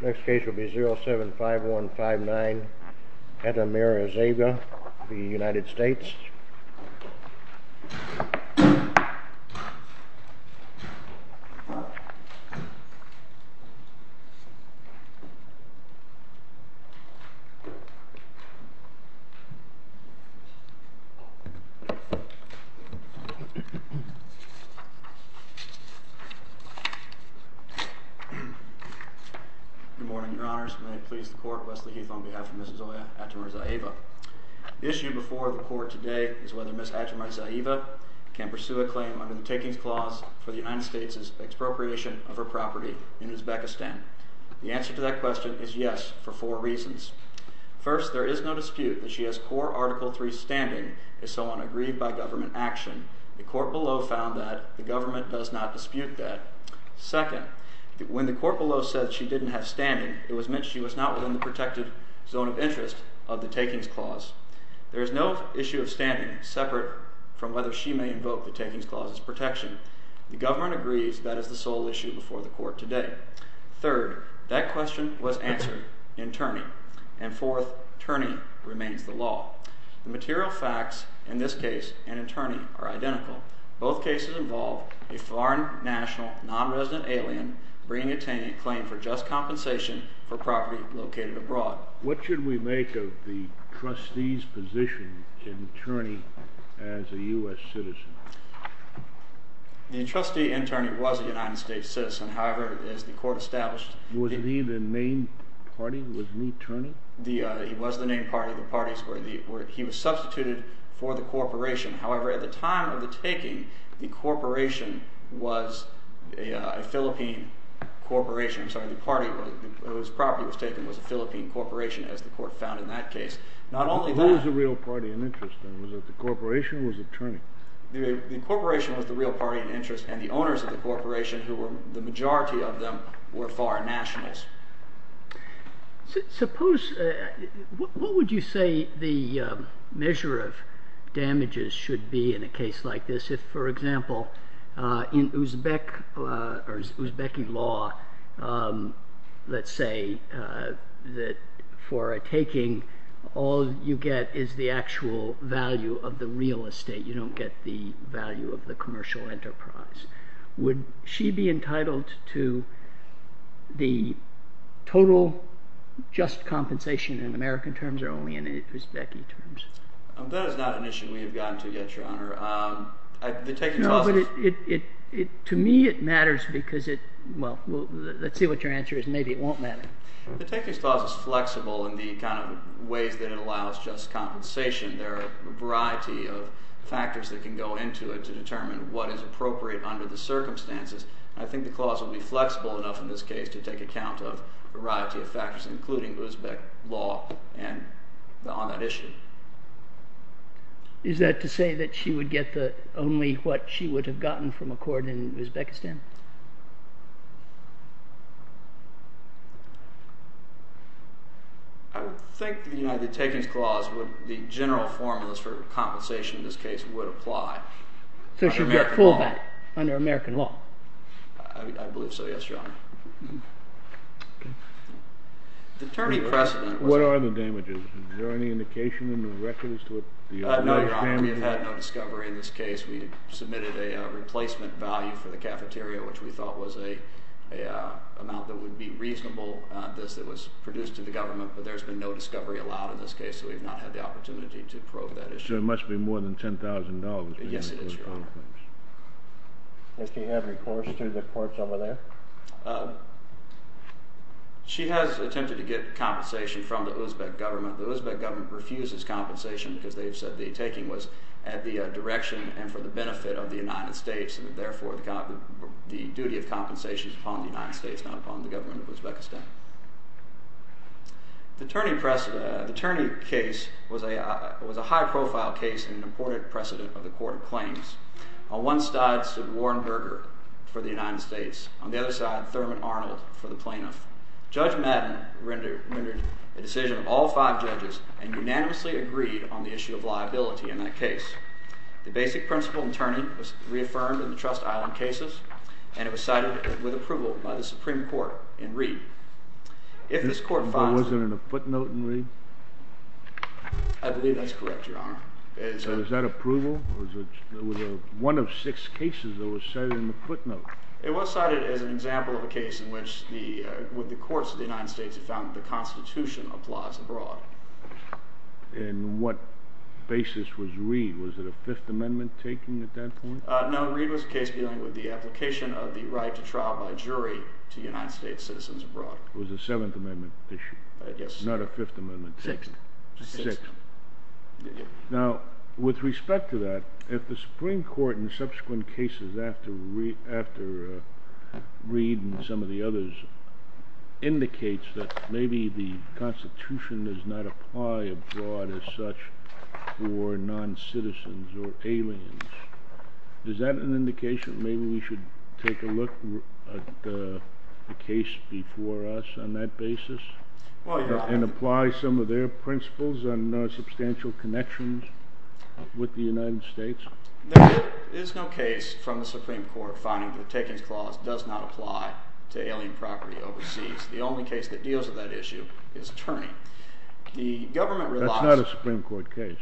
Next case will be 075159, Atamirzayeva v. United States. Good morning, your honors. May it please the court, Wesley Heath on behalf of Mrs. Zoya Atamirzayeva. The issue before the court today is whether Mrs. Atamirzayeva can pursue a claim under the Takings Clause for the United States' expropriation of her property in Uzbekistan. The answer to that question is yes, for four reasons. First, there is no dispute that she has core Article III standing as someone aggrieved by government action. The court below found that the government does not dispute that. Second, when the court below said she didn't have standing, it was meant she was not within the protected zone of interest of the Takings Clause. There is no issue of standing separate from whether she may invoke the Takings Clause's protection. The government agrees that is the sole issue before the court today. Third, that question was answered in Terni. And fourth, Terni remains the law. The material facts in this case and in Terni are identical. Both cases involve a foreign, national, non-resident alien bringing a claim for just compensation for property located abroad. What should we make of the trustee's position in Terni as a U.S. citizen? The trustee in Terni was a United States citizen. However, as the court established... Was he the main party? Was he Terni? He was the main party. He was substituted for the corporation. However, at the time of the taking, the corporation was a Philippine corporation. I'm sorry, the party whose property was taken was a Philippine corporation as the court found in that case. Not only that... But who was the real party in interest then? Was it the corporation or was it Terni? The corporation was the real party in interest, and the owners of the corporation, who were the majority of them, were foreign nationals. What would you say the measure of damages should be in a case like this? For example, in Uzbek law, let's say that for a taking, all you get is the actual value of the real estate. You don't get the value of the commercial enterprise. Would she be entitled to the total just compensation in American terms or only in Uzbek terms? That is not an issue we have gotten to yet, Your Honor. To me, it matters because it... Well, let's see what your answer is. Maybe it won't matter. The taking clause is flexible in the kind of ways that it allows just compensation. There are a variety of factors that can go into it to determine what is appropriate under the circumstances. I think the clause will be flexible enough in this case to take account of a variety of factors, including Uzbek law on that issue. Is that to say that she would get only what she would have gotten from a court in Uzbekistan? I would think the United Takings Clause, the general formulas for compensation in this case, would apply under American law. So she would get full back under American law? I believe so, yes, Your Honor. What are the damages? Is there any indication in the records? No, Your Honor. We have had no discovery in this case. We submitted a replacement value for the cafeteria, which we thought was an amount that would be reasonable, that was produced to the government, but there has been no discovery allowed in this case, so we have not had the opportunity to probe that issue. So it must be more than $10,000. Yes, it is, Your Honor. Does she have recourse to the courts over there? She has attempted to get compensation from the Uzbek government. The Uzbek government refuses compensation because they have said the taking was at the direction and for the benefit of the United States, and therefore the duty of compensation is upon the United States, not upon the government of Uzbekistan. The Turney case was a high-profile case and an important precedent of the court of claims. On one side stood Warren Berger for the United States. On the other side, Thurman Arnold for the plaintiff. Judge Madden rendered a decision of all five judges and unanimously agreed on the issue of liability in that case. The basic principle in Turney was reaffirmed in the Trust Island cases, and it was cited with approval by the Supreme Court in Reed. If this court finds... But was it in a footnote in Reed? I believe that's correct, Your Honor. So was that approval? It was one of six cases that was cited in the footnote. It was cited as an example of a case in which the courts of the United States have found that the Constitution applies abroad. And what basis was Reed? Was it a Fifth Amendment taking at that point? No, Reed was a case dealing with the application of the right to trial by jury to United States citizens abroad. It was a Seventh Amendment issue, not a Fifth Amendment taking. Sixth. Sixth. Now, with respect to that, if the Supreme Court, in subsequent cases after Reed and some of the others, indicates that maybe the Constitution does not apply abroad as such for noncitizens or aliens, is that an indication that maybe we should take a look at the case before us on that basis? And apply some of their principles on substantial connections with the United States? There is no case from the Supreme Court finding that Taken's Clause does not apply to alien property overseas. The only case that deals with that issue is Turney. That's not a Supreme Court case.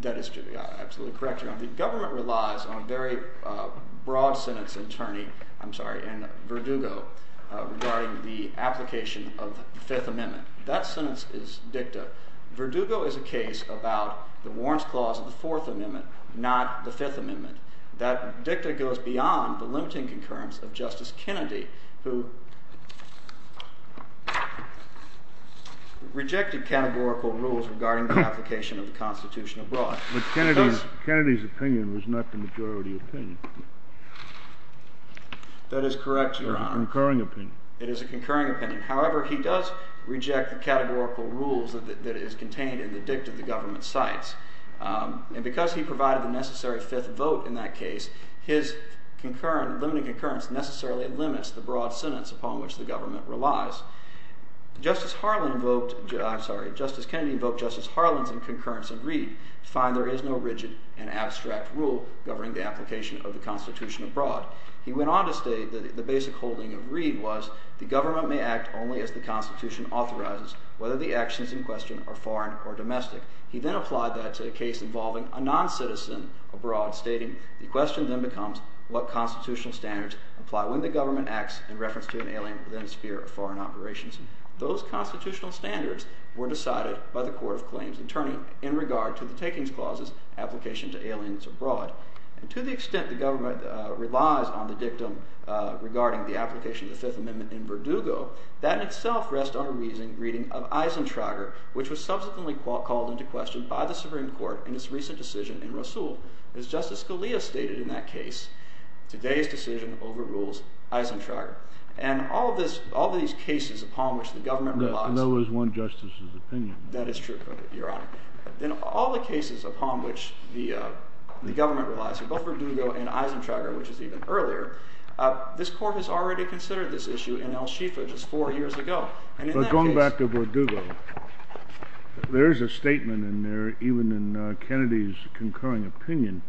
That is correct, Your Honor. The government relies on a very broad sentence in Verdugo regarding the application of the Fifth Amendment. That sentence is dicta. Verdugo is a case about the warrants clause of the Fourth Amendment, not the Fifth Amendment. That dicta goes beyond the limiting concurrence of Justice Kennedy, who rejected categorical rules regarding the application of the Constitution abroad. But Kennedy's opinion was not the majority opinion. That is correct, Your Honor. It was a concurring opinion. It is a concurring opinion. However, he does reject the categorical rules that is contained in the dicta the government cites. And because he provided the necessary fifth vote in that case, his limiting concurrence necessarily limits the broad sentence upon which the government relies. Justice Kennedy invoked Justice Harlan's concurrence in Reed to find there is no rigid and abstract rule governing the application of the Constitution abroad. He went on to state that the basic holding of Reed was the government may act only as the Constitution authorizes, whether the actions in question are foreign or domestic. He then applied that to a case involving a noncitizen abroad, stating the question then becomes what constitutional standards apply when the government acts in reference to an alien within a sphere of foreign operations. Those constitutional standards were decided by the court of claims attorney in regard to the takings clauses application to aliens abroad. And to the extent the government relies on the dictum regarding the application of the Fifth Amendment in Verdugo, that in itself rests on a reading of Eisentrager, which was subsequently called into question by the Supreme Court in its recent decision in Rousseau. As Justice Scalia stated in that case, today's decision overrules Eisentrager. And all of these cases upon which the government relies... In other words, one justice's opinion. That is true, Your Honor. In all the cases upon which the government relies, both Verdugo and Eisentrager, which is even earlier, this court has already considered this issue in El Shifa just four years ago. But going back to Verdugo, there is a statement in there, even in Kennedy's concurring opinion,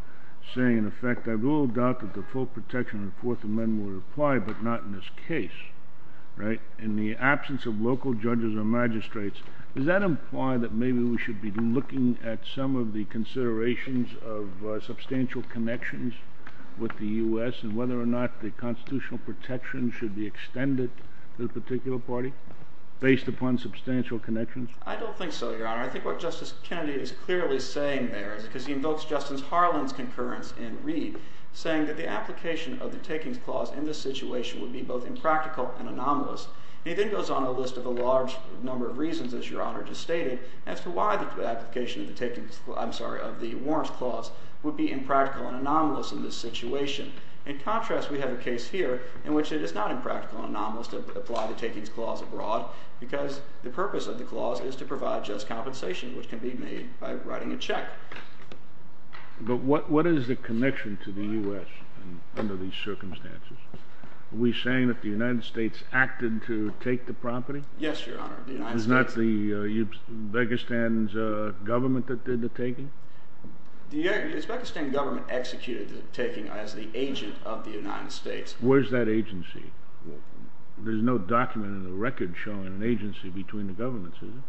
saying, in effect, I have little doubt that the full protection of the Fourth Amendment would apply, but not in this case. In the absence of local judges or magistrates, does that imply that maybe we should be looking at some of the considerations of substantial connections with the US and whether or not the constitutional protections should be extended to the particular party, based upon substantial connections? I don't think so, Your Honor. I think what Justice Kennedy is clearly saying there, because he invokes Justice Harlan's concurrence in Reed, saying that the application of the takings clause in this situation would be both impractical and anomalous. And he then goes on a list of a large number of reasons, as Your Honor just stated, as to why the application of the warrants clause would be impractical and anomalous in this situation. In contrast, we have a case here in which it is not impractical and anomalous to apply the takings clause abroad, because the purpose of the clause is to provide just compensation, which can be made by writing a check. But what is the connection to the US under these circumstances? Are we saying that the United States acted to take the property? Yes, Your Honor. Was it not Uzbekistan's government that did the taking? Uzbekistan's government executed the taking as the agent of the United States. Where is that agency? There is no document in the record showing an agency between the governments, is there?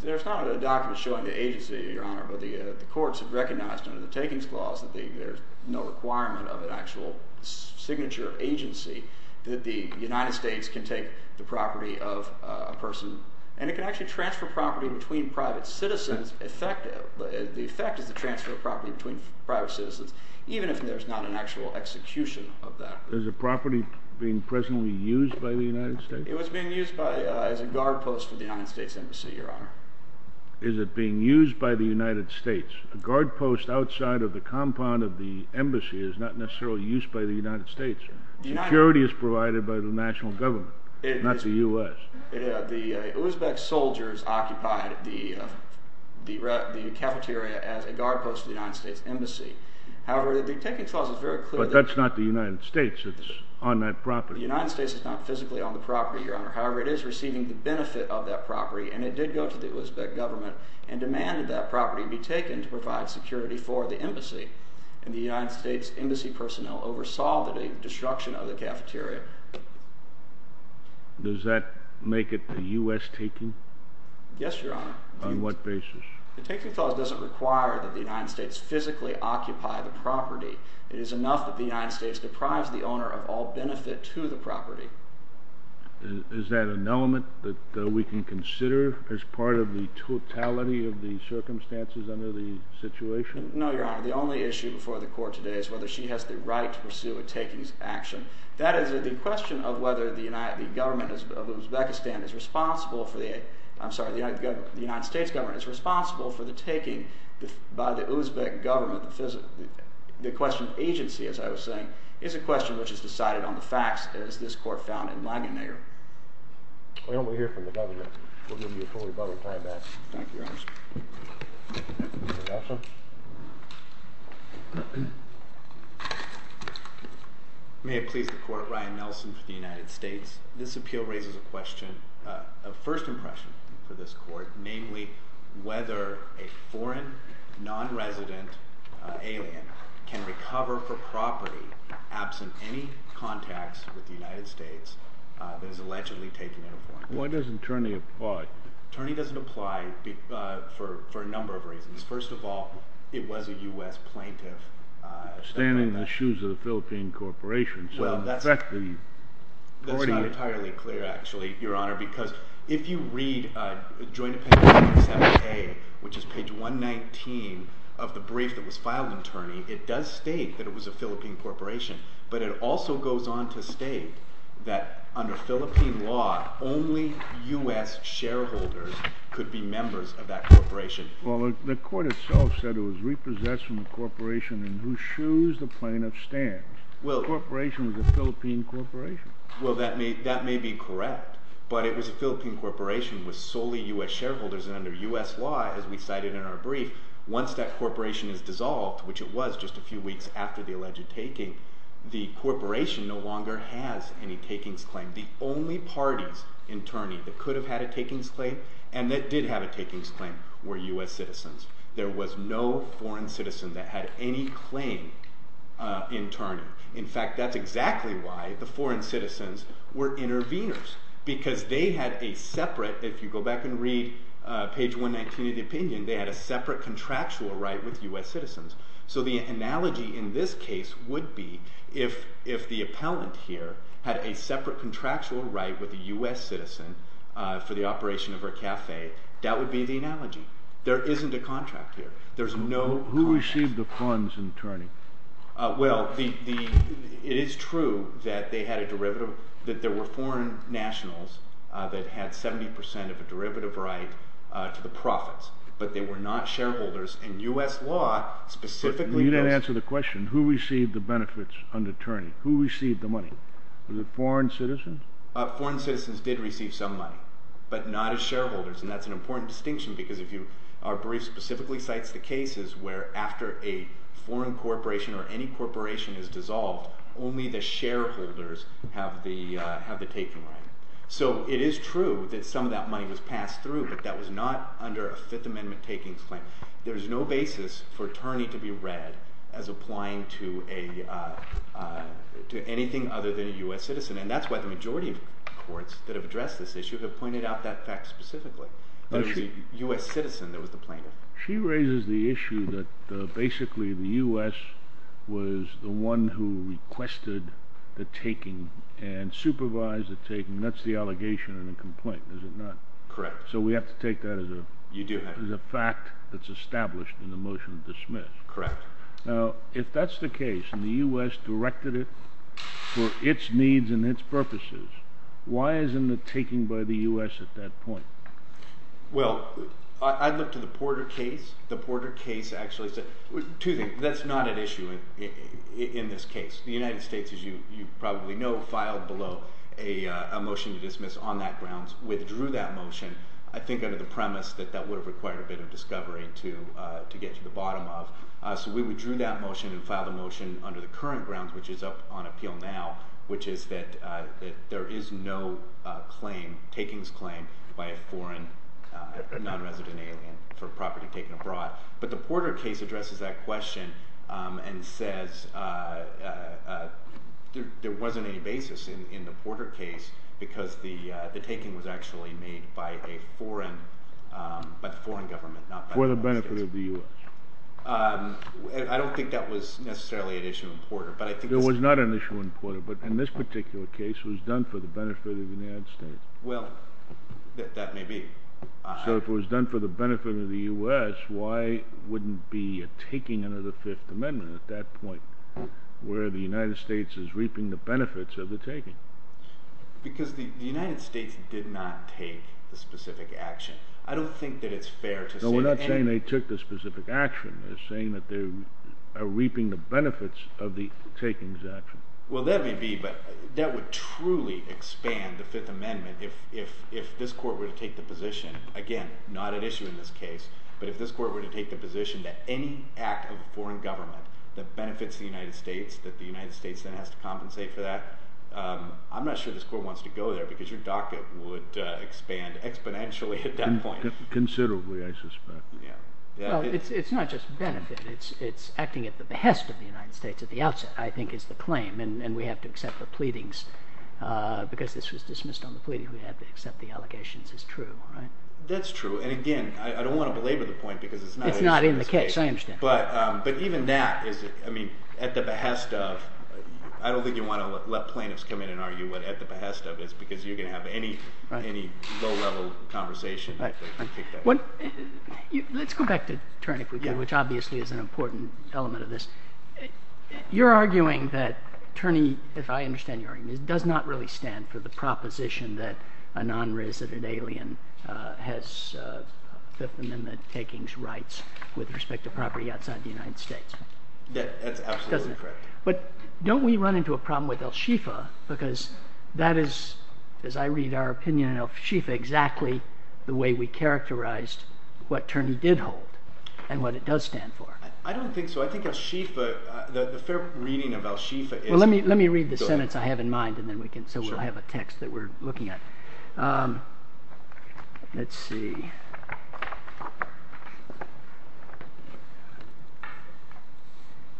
There is not a document showing the agency, Your Honor, but the courts have recognized under the takings clause that there is no requirement of an actual signature of agency that the United States can take the property of a person, and it can actually transfer property between private citizens. The effect is the transfer of property between private citizens, even if there is not an actual execution of that. Is the property being presently used by the United States? It was being used as a guard post of the United States Embassy, Your Honor. Is it being used by the United States? A guard post outside of the compound of the embassy is not necessarily used by the United States. Security is provided by the national government, not the US. The Uzbek soldiers occupied the cafeteria as a guard post of the United States Embassy. However, the taking clause is very clear that... But that's not the United States that's on that property. The United States is not physically on the property, Your Honor. However, it is receiving the benefit of that property, and it did go to the Uzbek government and demanded that property be taken to provide security for the embassy, and the United States embassy personnel oversaw the destruction of the cafeteria. Does that make it a US taking? Yes, Your Honor. On what basis? The taking clause doesn't require that the United States physically occupy the property. It is enough that the United States deprives the owner of all benefit to the property. Is that an element that we can consider as part of the totality of the circumstances under the situation? No, Your Honor. The only issue before the court today is whether she has the right to pursue a taking action. That is, the question of whether the government of Uzbekistan is responsible for the... I'm sorry, the United States government is responsible for the taking by the Uzbek government... The question of agency, as I was saying, is a question which is decided on the facts, as this court found in Lagunayer. Well, we'll hear from the government. We'll give you a full rebuttal time-out. Thank you, Your Honor. Mr. Nelson? May it please the court, Ryan Nelson for the United States. This appeal raises a question of first impression for this court, namely, whether a foreign, non-resident alien can recover for property absent any contacts with the United States that is allegedly taken in a foreign country. Why doesn't Turney apply? Turney doesn't apply for a number of reasons. First of all, it was a U.S. plaintiff. Standing in the shoes of the Philippine corporation. That's not entirely clear, actually, Your Honor, because if you read Joint Appendix 37A, which is page 119 of the brief that was filed in Turney, it does state that it was a Philippine corporation, but it also goes on to state that under Philippine law, only U.S. shareholders could be members of that corporation. Well, the court itself said it was repossessed from the corporation in whose shoes the plaintiff stands. The corporation was a Philippine corporation. Well, that may be correct, but it was a Philippine corporation with solely U.S. shareholders, and under U.S. law, as we cited in our brief, once that corporation is dissolved, which it was just a few weeks after the alleged taking, the corporation no longer has any takings claim. The only parties in Turney that could have had a takings claim, and that did have a takings claim, were U.S. citizens. There was no foreign citizen that had any claim in Turney. In fact, that's exactly why the foreign citizens were interveners, because they had a separate, if you go back and read page 119 of the opinion, they had a separate contractual right with U.S. citizens. So the analogy in this case would be if the appellant here had a separate contractual right with a U.S. citizen for the operation of her cafe, that would be the analogy. There isn't a contract here. Who received the funds in Turney? Well, it is true that there were foreign nationals that had 70% of a derivative right to the profits, but they were not shareholders. In U.S. law, specifically... You didn't answer the question. Who received the benefits under Turney? Who received the money? Was it foreign citizens? Foreign citizens did receive some money, but not as shareholders, and that's an important distinction, because our brief specifically cites the cases where after a foreign corporation or any corporation is dissolved, only the shareholders have the taking right. So it is true that some of that money was passed through, but that was not under a Fifth Amendment takings claim. There is no basis for Turney to be read as applying to anything other than a U.S. citizen, and that's why the majority of courts that have addressed this issue have pointed out that fact specifically, that it was a U.S. citizen that was the plaintiff. She raises the issue that basically the U.S. was the one who requested the taking and supervised the taking. That's the allegation in the complaint, is it not? Correct. So we have to take that as a fact that's established in the motion to dismiss. Correct. Now, if that's the case, and the U.S. directed it for its needs and its purposes, why isn't it taken by the U.S. at that point? Well, I looked at the Porter case. The Porter case actually said two things. That's not at issue in this case. The United States, as you probably know, filed below a motion to dismiss on that grounds, withdrew that motion, I think under the premise that that would have required a bit of discovery to get to the bottom of. So we withdrew that motion and filed a motion under the current grounds, which is up on appeal now, which is that there is no claim, takings claim, by a foreign non-resident alien for property taken abroad. But the Porter case addresses that question and says there wasn't any basis in the Porter case because the taking was actually made by a foreign government. For the benefit of the U.S. I don't think that was necessarily an issue in Porter. There was not an issue in Porter, but in this particular case it was done for the benefit of the United States. Well, that may be. So if it was done for the benefit of the U.S., why wouldn't be a taking under the Fifth Amendment at that point where the United States is reaping the benefits of the taking? Because the United States did not take the specific action. I don't think that it's fair to say that any... No, we're not saying they took the specific action. We're saying that they are reaping the benefits of the taking's action. Well, that may be, but that would truly expand the Fifth Amendment if this Court were to take the position, again, not at issue in this case, but if this Court were to take the position that any act of a foreign government that benefits the United States, that the United States then has to compensate for that, I'm not sure this Court wants to go there because your docket would expand exponentially at that point. Considerably, I suspect. Well, it's not just benefit. It's acting at the behest of the United States at the outset, I think, is the claim, and we have to accept the pleadings. Because this was dismissed on the pleading, we have to accept the allegations as true. That's true, and again, I don't want to belabor the point because it's not... It's not in the case, I understand. But even that is, I mean, at the behest of... I don't think you want to let plaintiffs come in and argue what at the behest of is because you're going to have any low-level conversation. Let's go back to Turn, if we could, which obviously is an important element of this. You're arguing that Turney, if I understand your argument, does not really stand for the proposition that a non-resident alien has Fifth Amendment takings rights with respect to property outside the United States. That's absolutely correct. But don't we run into a problem with al-Shifa because that is, as I read our opinion on al-Shifa, exactly the way we characterized what Turney did hold and what it does stand for. I don't think so. I think al-Shifa... The fair reading of al-Shifa is... Let me read the sentence I have in mind so I have a text that we're looking at. Let's see.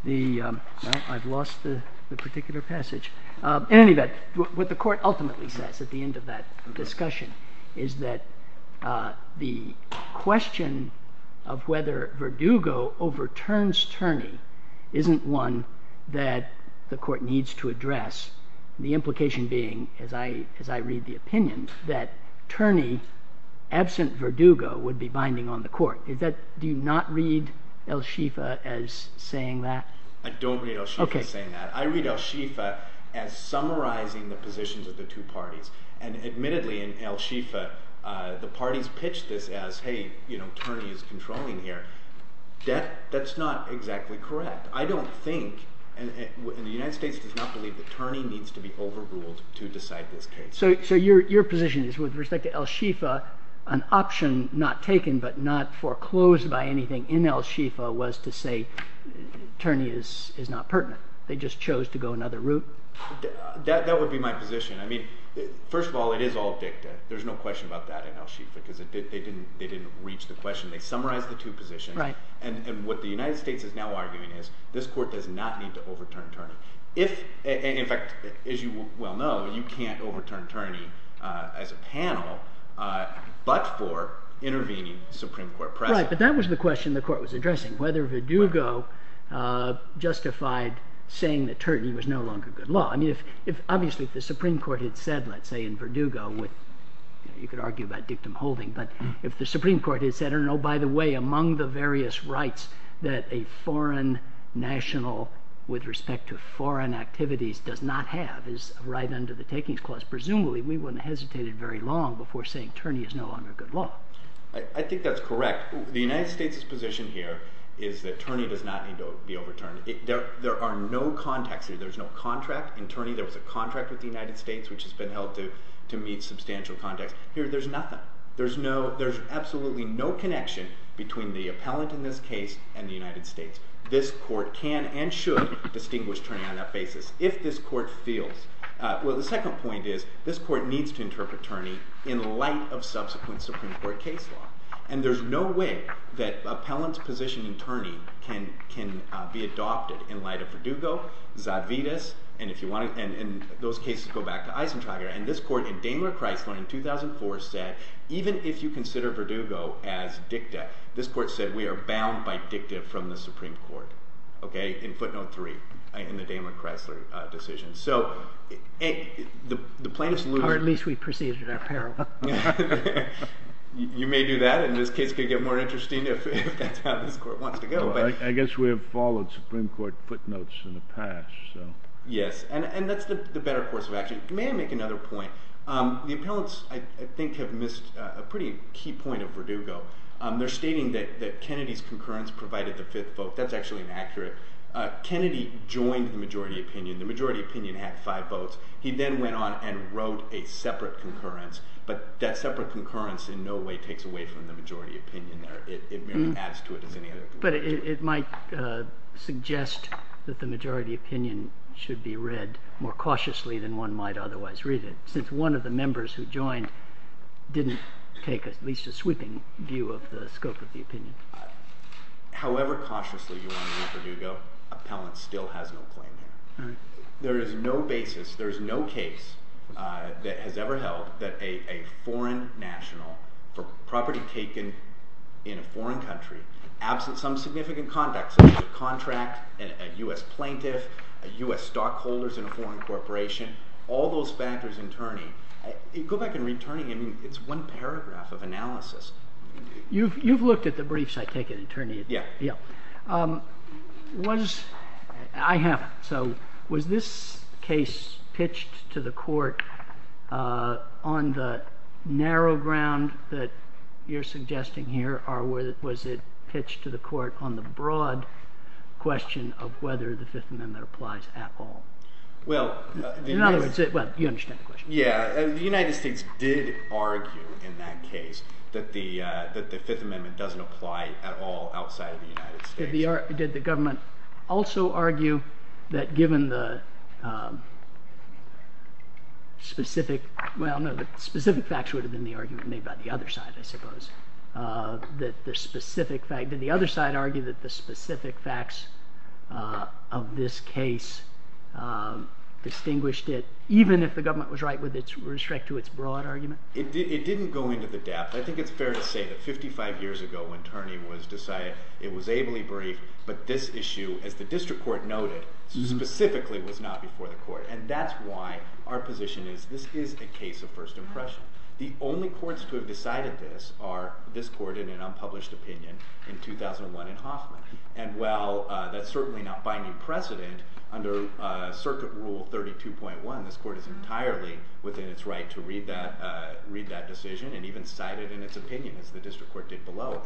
I've lost the particular passage. In any event, what the Court ultimately says at the end of that discussion is that the question of whether Verdugo overturns Turney isn't one that the Court needs to address, the implication being, as I read the opinion, that Turney, absent Verdugo, would be binding on the Court. Do you not read al-Shifa as saying that? I don't read al-Shifa as saying that. I read al-Shifa as summarizing the positions of the two parties. And admittedly, in al-Shifa, the parties pitched this as, hey, Turney is controlling here. That's not exactly correct. I don't think, and the United States does not believe that Turney needs to be overruled to decide this case. So your position is, with respect to al-Shifa, an option not taken but not foreclosed by anything in al-Shifa was to say Turney is not pertinent. They just chose to go another route? That would be my position. First of all, it is all dicta. There's no question about that in al-Shifa because they didn't reach the question. They summarized the two positions. And what the United States is now arguing is this Court does not need to overturn Turney. In fact, as you well know, you can't overturn Turney as a panel but for intervening Supreme Court precedent. Right, but that was the question the Court was addressing, whether Verdugo justified saying that Turney was no longer good law. I mean, obviously, if the Supreme Court had said, let's say, in Verdugo, you could argue about dictum holding, but if the Supreme Court had said, oh, by the way, among the various rights that a foreign national with respect to foreign activities does not have is right under the takings clause, presumably we wouldn't have hesitated very long before saying Turney is no longer good law. I think that's correct. The United States' position here is that Turney does not need to be overturned. There are no contacts here. There's no contract in Turney. There was a contract with the United States which has been held to meet substantial contacts. Here, there's nothing. There's absolutely no connection between the appellant in this case and the United States. This Court can and should distinguish Turney on that basis if this Court feels... Well, the second point is this Court needs to interpret Turney in light of subsequent Supreme Court case law. And there's no way that appellant's position in Turney can be adopted in light of Verdugo, Zadvides, and those cases go back to Eisentrager. And this Court in Daimler-Chrysler in 2004 said even if you consider Verdugo as dicta, this Court said we are bound by dicta from the Supreme Court in footnote three in the Daimler-Chrysler decision. Or at least we preceded apparel. You may do that and this case could get more interesting if that's how this Court wants to go. I guess we have followed Supreme Court footnotes in the past. Yes, and that's the better course of action. May I make another point? The appellants, I think, have missed a pretty key point of Verdugo. They're stating that Kennedy's concurrence provided the fifth vote. That's actually inaccurate. Kennedy joined the majority opinion. The majority opinion had five votes. He then went on and wrote a separate concurrence, but that separate concurrence in no way takes away from the majority opinion there. It merely adds to it as any other... But it might suggest that the majority opinion should be read more cautiously than one might otherwise read it, since one of the members who joined didn't take at least a sweeping view of the scope of the opinion. However cautiously you want to read Verdugo, appellants still has no claim there. There is no basis, there is no case that has ever held that a foreign national for property taken in a foreign country, absent some significant conduct, such as a contract, a U.S. plaintiff, a U.S. stockholders in a foreign corporation, all those factors in turning. Go back and read turning, it's one paragraph of analysis. You've looked at the briefs, I take it, attorney? Yeah. Was, I haven't, so was this case pitched to the court on the narrow ground that you're suggesting here, or was it pitched to the court on the broad question of whether the Fifth Amendment applies at all? Well, In other words, well, you understand the question. Yeah, the United States did argue in that case that the Fifth Amendment doesn't apply at all outside of the United States. Did the government also argue that given the specific, well, no, the specific facts would have been the argument made by the other side, I suppose, that the specific fact, did the other side argue that the specific facts of this case distinguished it, even if the government was right with respect to its broad argument? It didn't go into the depth. I think it's fair to say that 55 years ago when turning was decided, it was ably briefed, but this issue, as the district court noted, specifically was not before the court. And that's why our position is this is a case of first impression. The only courts to have decided this are this court in an unpublished opinion in 2001 in Hoffman. And while that's certainly not binding precedent, under Circuit Rule 32.1 this court is entirely within its right to read that decision and even cite it in its opinion as the district court did below.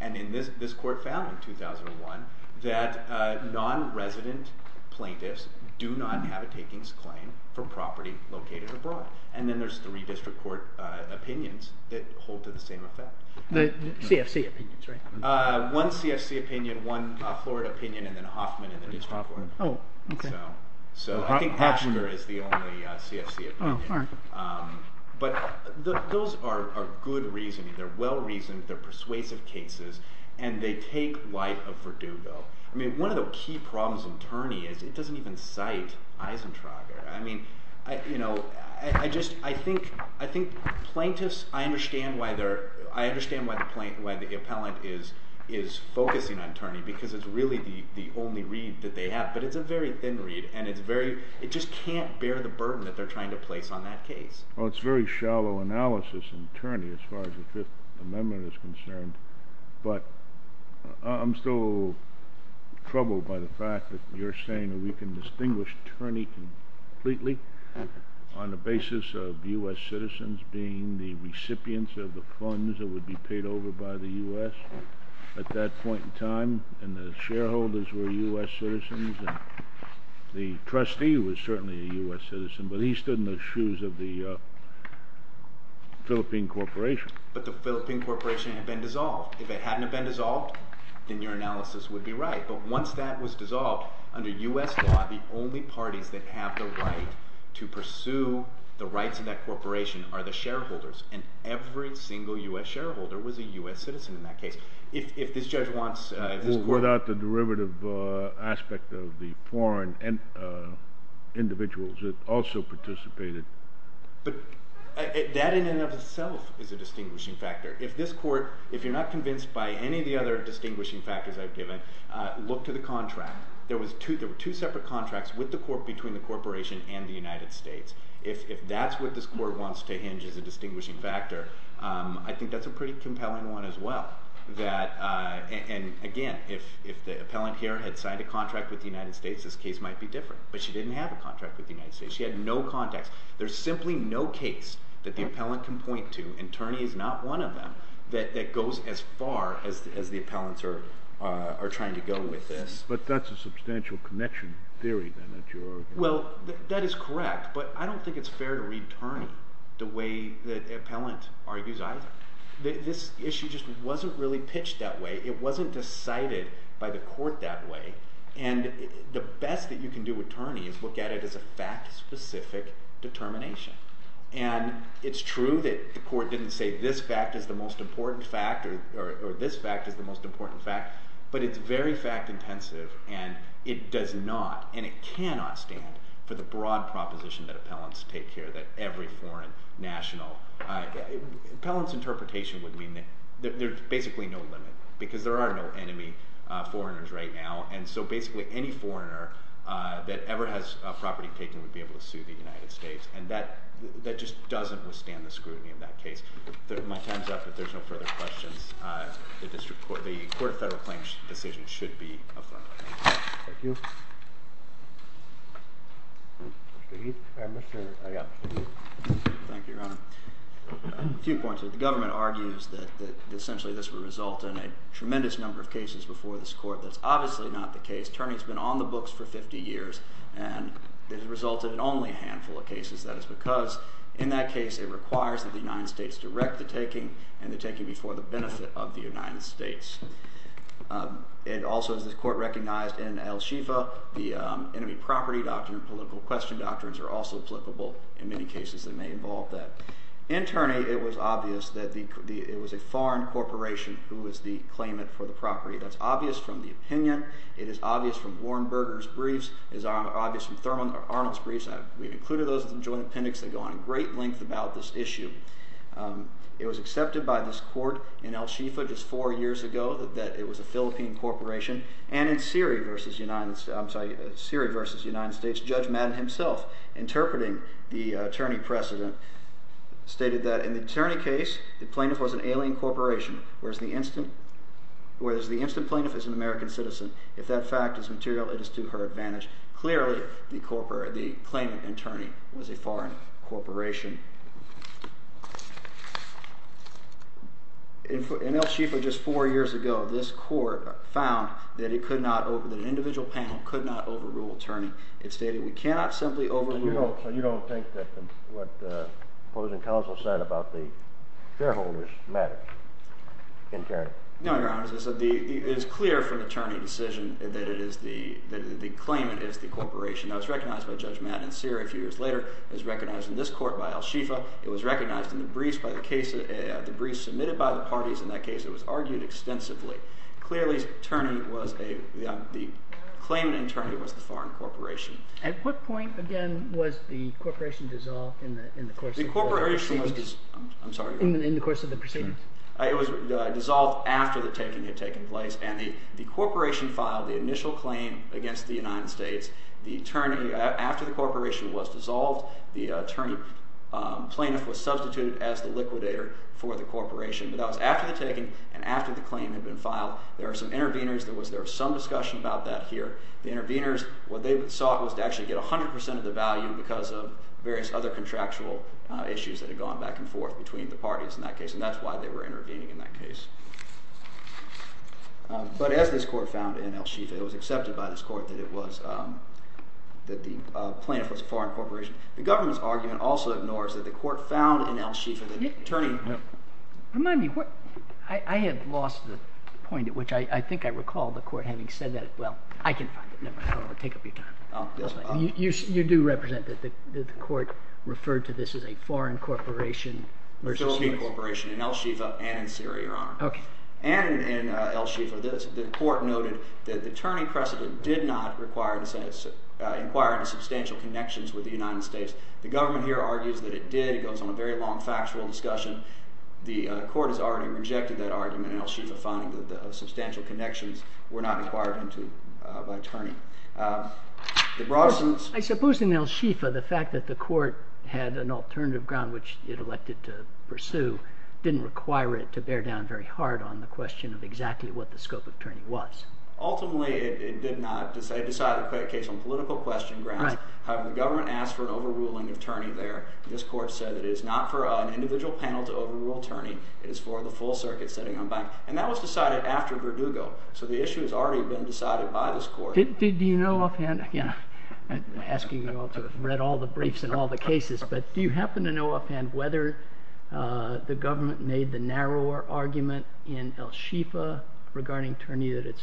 And this court found in 2001 that non-resident plaintiffs do not have a takings claim for property located abroad. And then there's three district court opinions that hold to the same effect. The CFC opinions, right? One CFC opinion, one Florida opinion, and then Hoffman in the district court. Oh, okay. So I think Hofstra is the only CFC opinion. Oh, all right. But those are good reasoning. They're well-reasoned, they're persuasive cases, and they take light of Verdugo. I mean, one of the key problems in turning is it doesn't even cite Eisentrager. I mean, you know, I just, I think, I think plaintiffs, I understand why the appellant is focusing on Turney because it's really the only read that they have. But it's a very thin read and it's very, it just can't bear the burden that they're trying to place on that case. Well, it's very shallow analysis in Turney as far as the Fifth Amendment is concerned. But I'm still troubled by the fact that you're saying that we can distinguish Turney completely on the basis of U.S. citizens being the recipients of the funds that would be paid over by the U.S. at that point in time and the shareholders were U.S. citizens and the trustee was certainly a U.S. citizen but he stood in the shoes of the Philippine Corporation. But the Philippine Corporation had been dissolved. If it hadn't been dissolved, then your analysis would be right. But once that was dissolved, under U.S. law, the only parties that have the right to pursue the rights of that corporation are the shareholders and every single U.S. shareholder was a U.S. citizen in that case. If this judge wants... Well, without the derivative aspect of the foreign individuals that also participated... But that in and of itself is a distinguishing factor. If this court, if you're not convinced by any of the other distinguishing factors I've given, look to the contract. There were two separate contracts between the corporation and the United States. If that's what this court wants to hinge as a distinguishing factor, I think that's a pretty compelling one as well. And again, if the appellant here had signed a contract with the United States, this case might be different. But she didn't have a contract with the United States. She had no contacts. There's simply no case that the appellant can point to, and Turney is not one of them, that goes as far as the appellants are trying to go with this. But that's a substantial connection theory then that you're arguing. Well, that is correct, but I don't think it's fair to read Turney the way the appellant argues either. This issue just wasn't really pitched that way. It wasn't decided by the court that way. And the best that you can do with Turney is look at it as a fact-specific determination. And it's true that the court didn't say this fact is the most important fact, or this fact is the most important fact, but it's very fact-intensive, and it does not, and it cannot stand for the broad proposition that appellants take here that every foreign national, appellants interpret would mean that there's basically no limit, because there are no enemy foreigners right now, and so basically any foreigner that ever has property taken would be able to sue the United States, and that just doesn't withstand the scrutiny of that case. My time's up, but if there's no further questions, the Court of Federal Claims decision should be affirmed. Thank you. Mr. Heath. Thank you, Your Honor. Two points. The government argues that essentially this would result in a tremendous number of cases before this Court. That's obviously not the case. Terny's been on the books for 50 years, and it has resulted in only a handful of cases. That is because in that case it requires that the United States direct the taking and the taking before the benefit of the United States. It also, as the Court recognized in El Shifa, the enemy property doctrine and political question doctrines are also applicable in many cases that may involve that. In Terny, it was obvious that it was a foreign corporation who was the claimant for the property. That's obvious from the opinion. It is obvious from Warnberger's briefs. It is obvious from Arnold's briefs. We've included those in the joint appendix. They go on in great length about this issue. It was accepted by this Court in El Shifa just four years ago that it was a foreign corporation. In Terny, the Attorney President stated that in the Terny case, the plaintiff was an alien corporation whereas the instant plaintiff is an American citizen. If that fact is material, it is to her advantage. Clearly, the claimant attorney was a foreign corporation. In El Shifa just four years ago, this Court found that an individual panel could not overrule Terny. It stated we cannot simply overrule Terny. You don't think that what the opposing counsel said about the shareholders matters in Terny? No, Your Honor. It is clear from the Terny decision that the claimant is the corporation. That was recognized by Judge Matt Inser a few years later. It was recognized in this Court by El Shifa. It was recognized in this Court by the parties. In that case, it was argued extensively. Clearly, the claimant attorney was the foreign corporation. At what point, again, was the corporation dissolved in the course of the proceedings? It was dissolved after the taking had taken place. The corporation filed the claim. There were some interveners. There was some discussion about that here. The interveners sought to get 100 percent of the value because of various contractual issues. That is why they were intervening in that case. As this Court found in El Shifa, it was accepted by this Court that the plaintiff was a foreign corporation. The government's argument also ignores that the Court found in El Shifa that the attorney was a foreign corporation. You do represent that the Court referred to this as a foreign corporation? A Philippine foreign corporation? The court did not require substantial connections with States. The government argues it did. The court rejected that argument in El Shifa. I suppose in El Shifa the court did not require to bear down on the question of exactly what the scope of attorney was. Ultimately it did not. The government asked for an over ruling attorney there. This court said it is not for an individual panel to over rule attorney. The issue has already been decided by this court. Do you know whether the government made the narrower argument in El Shifa regarding attorney or did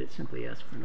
it simply ask for an over ruling there.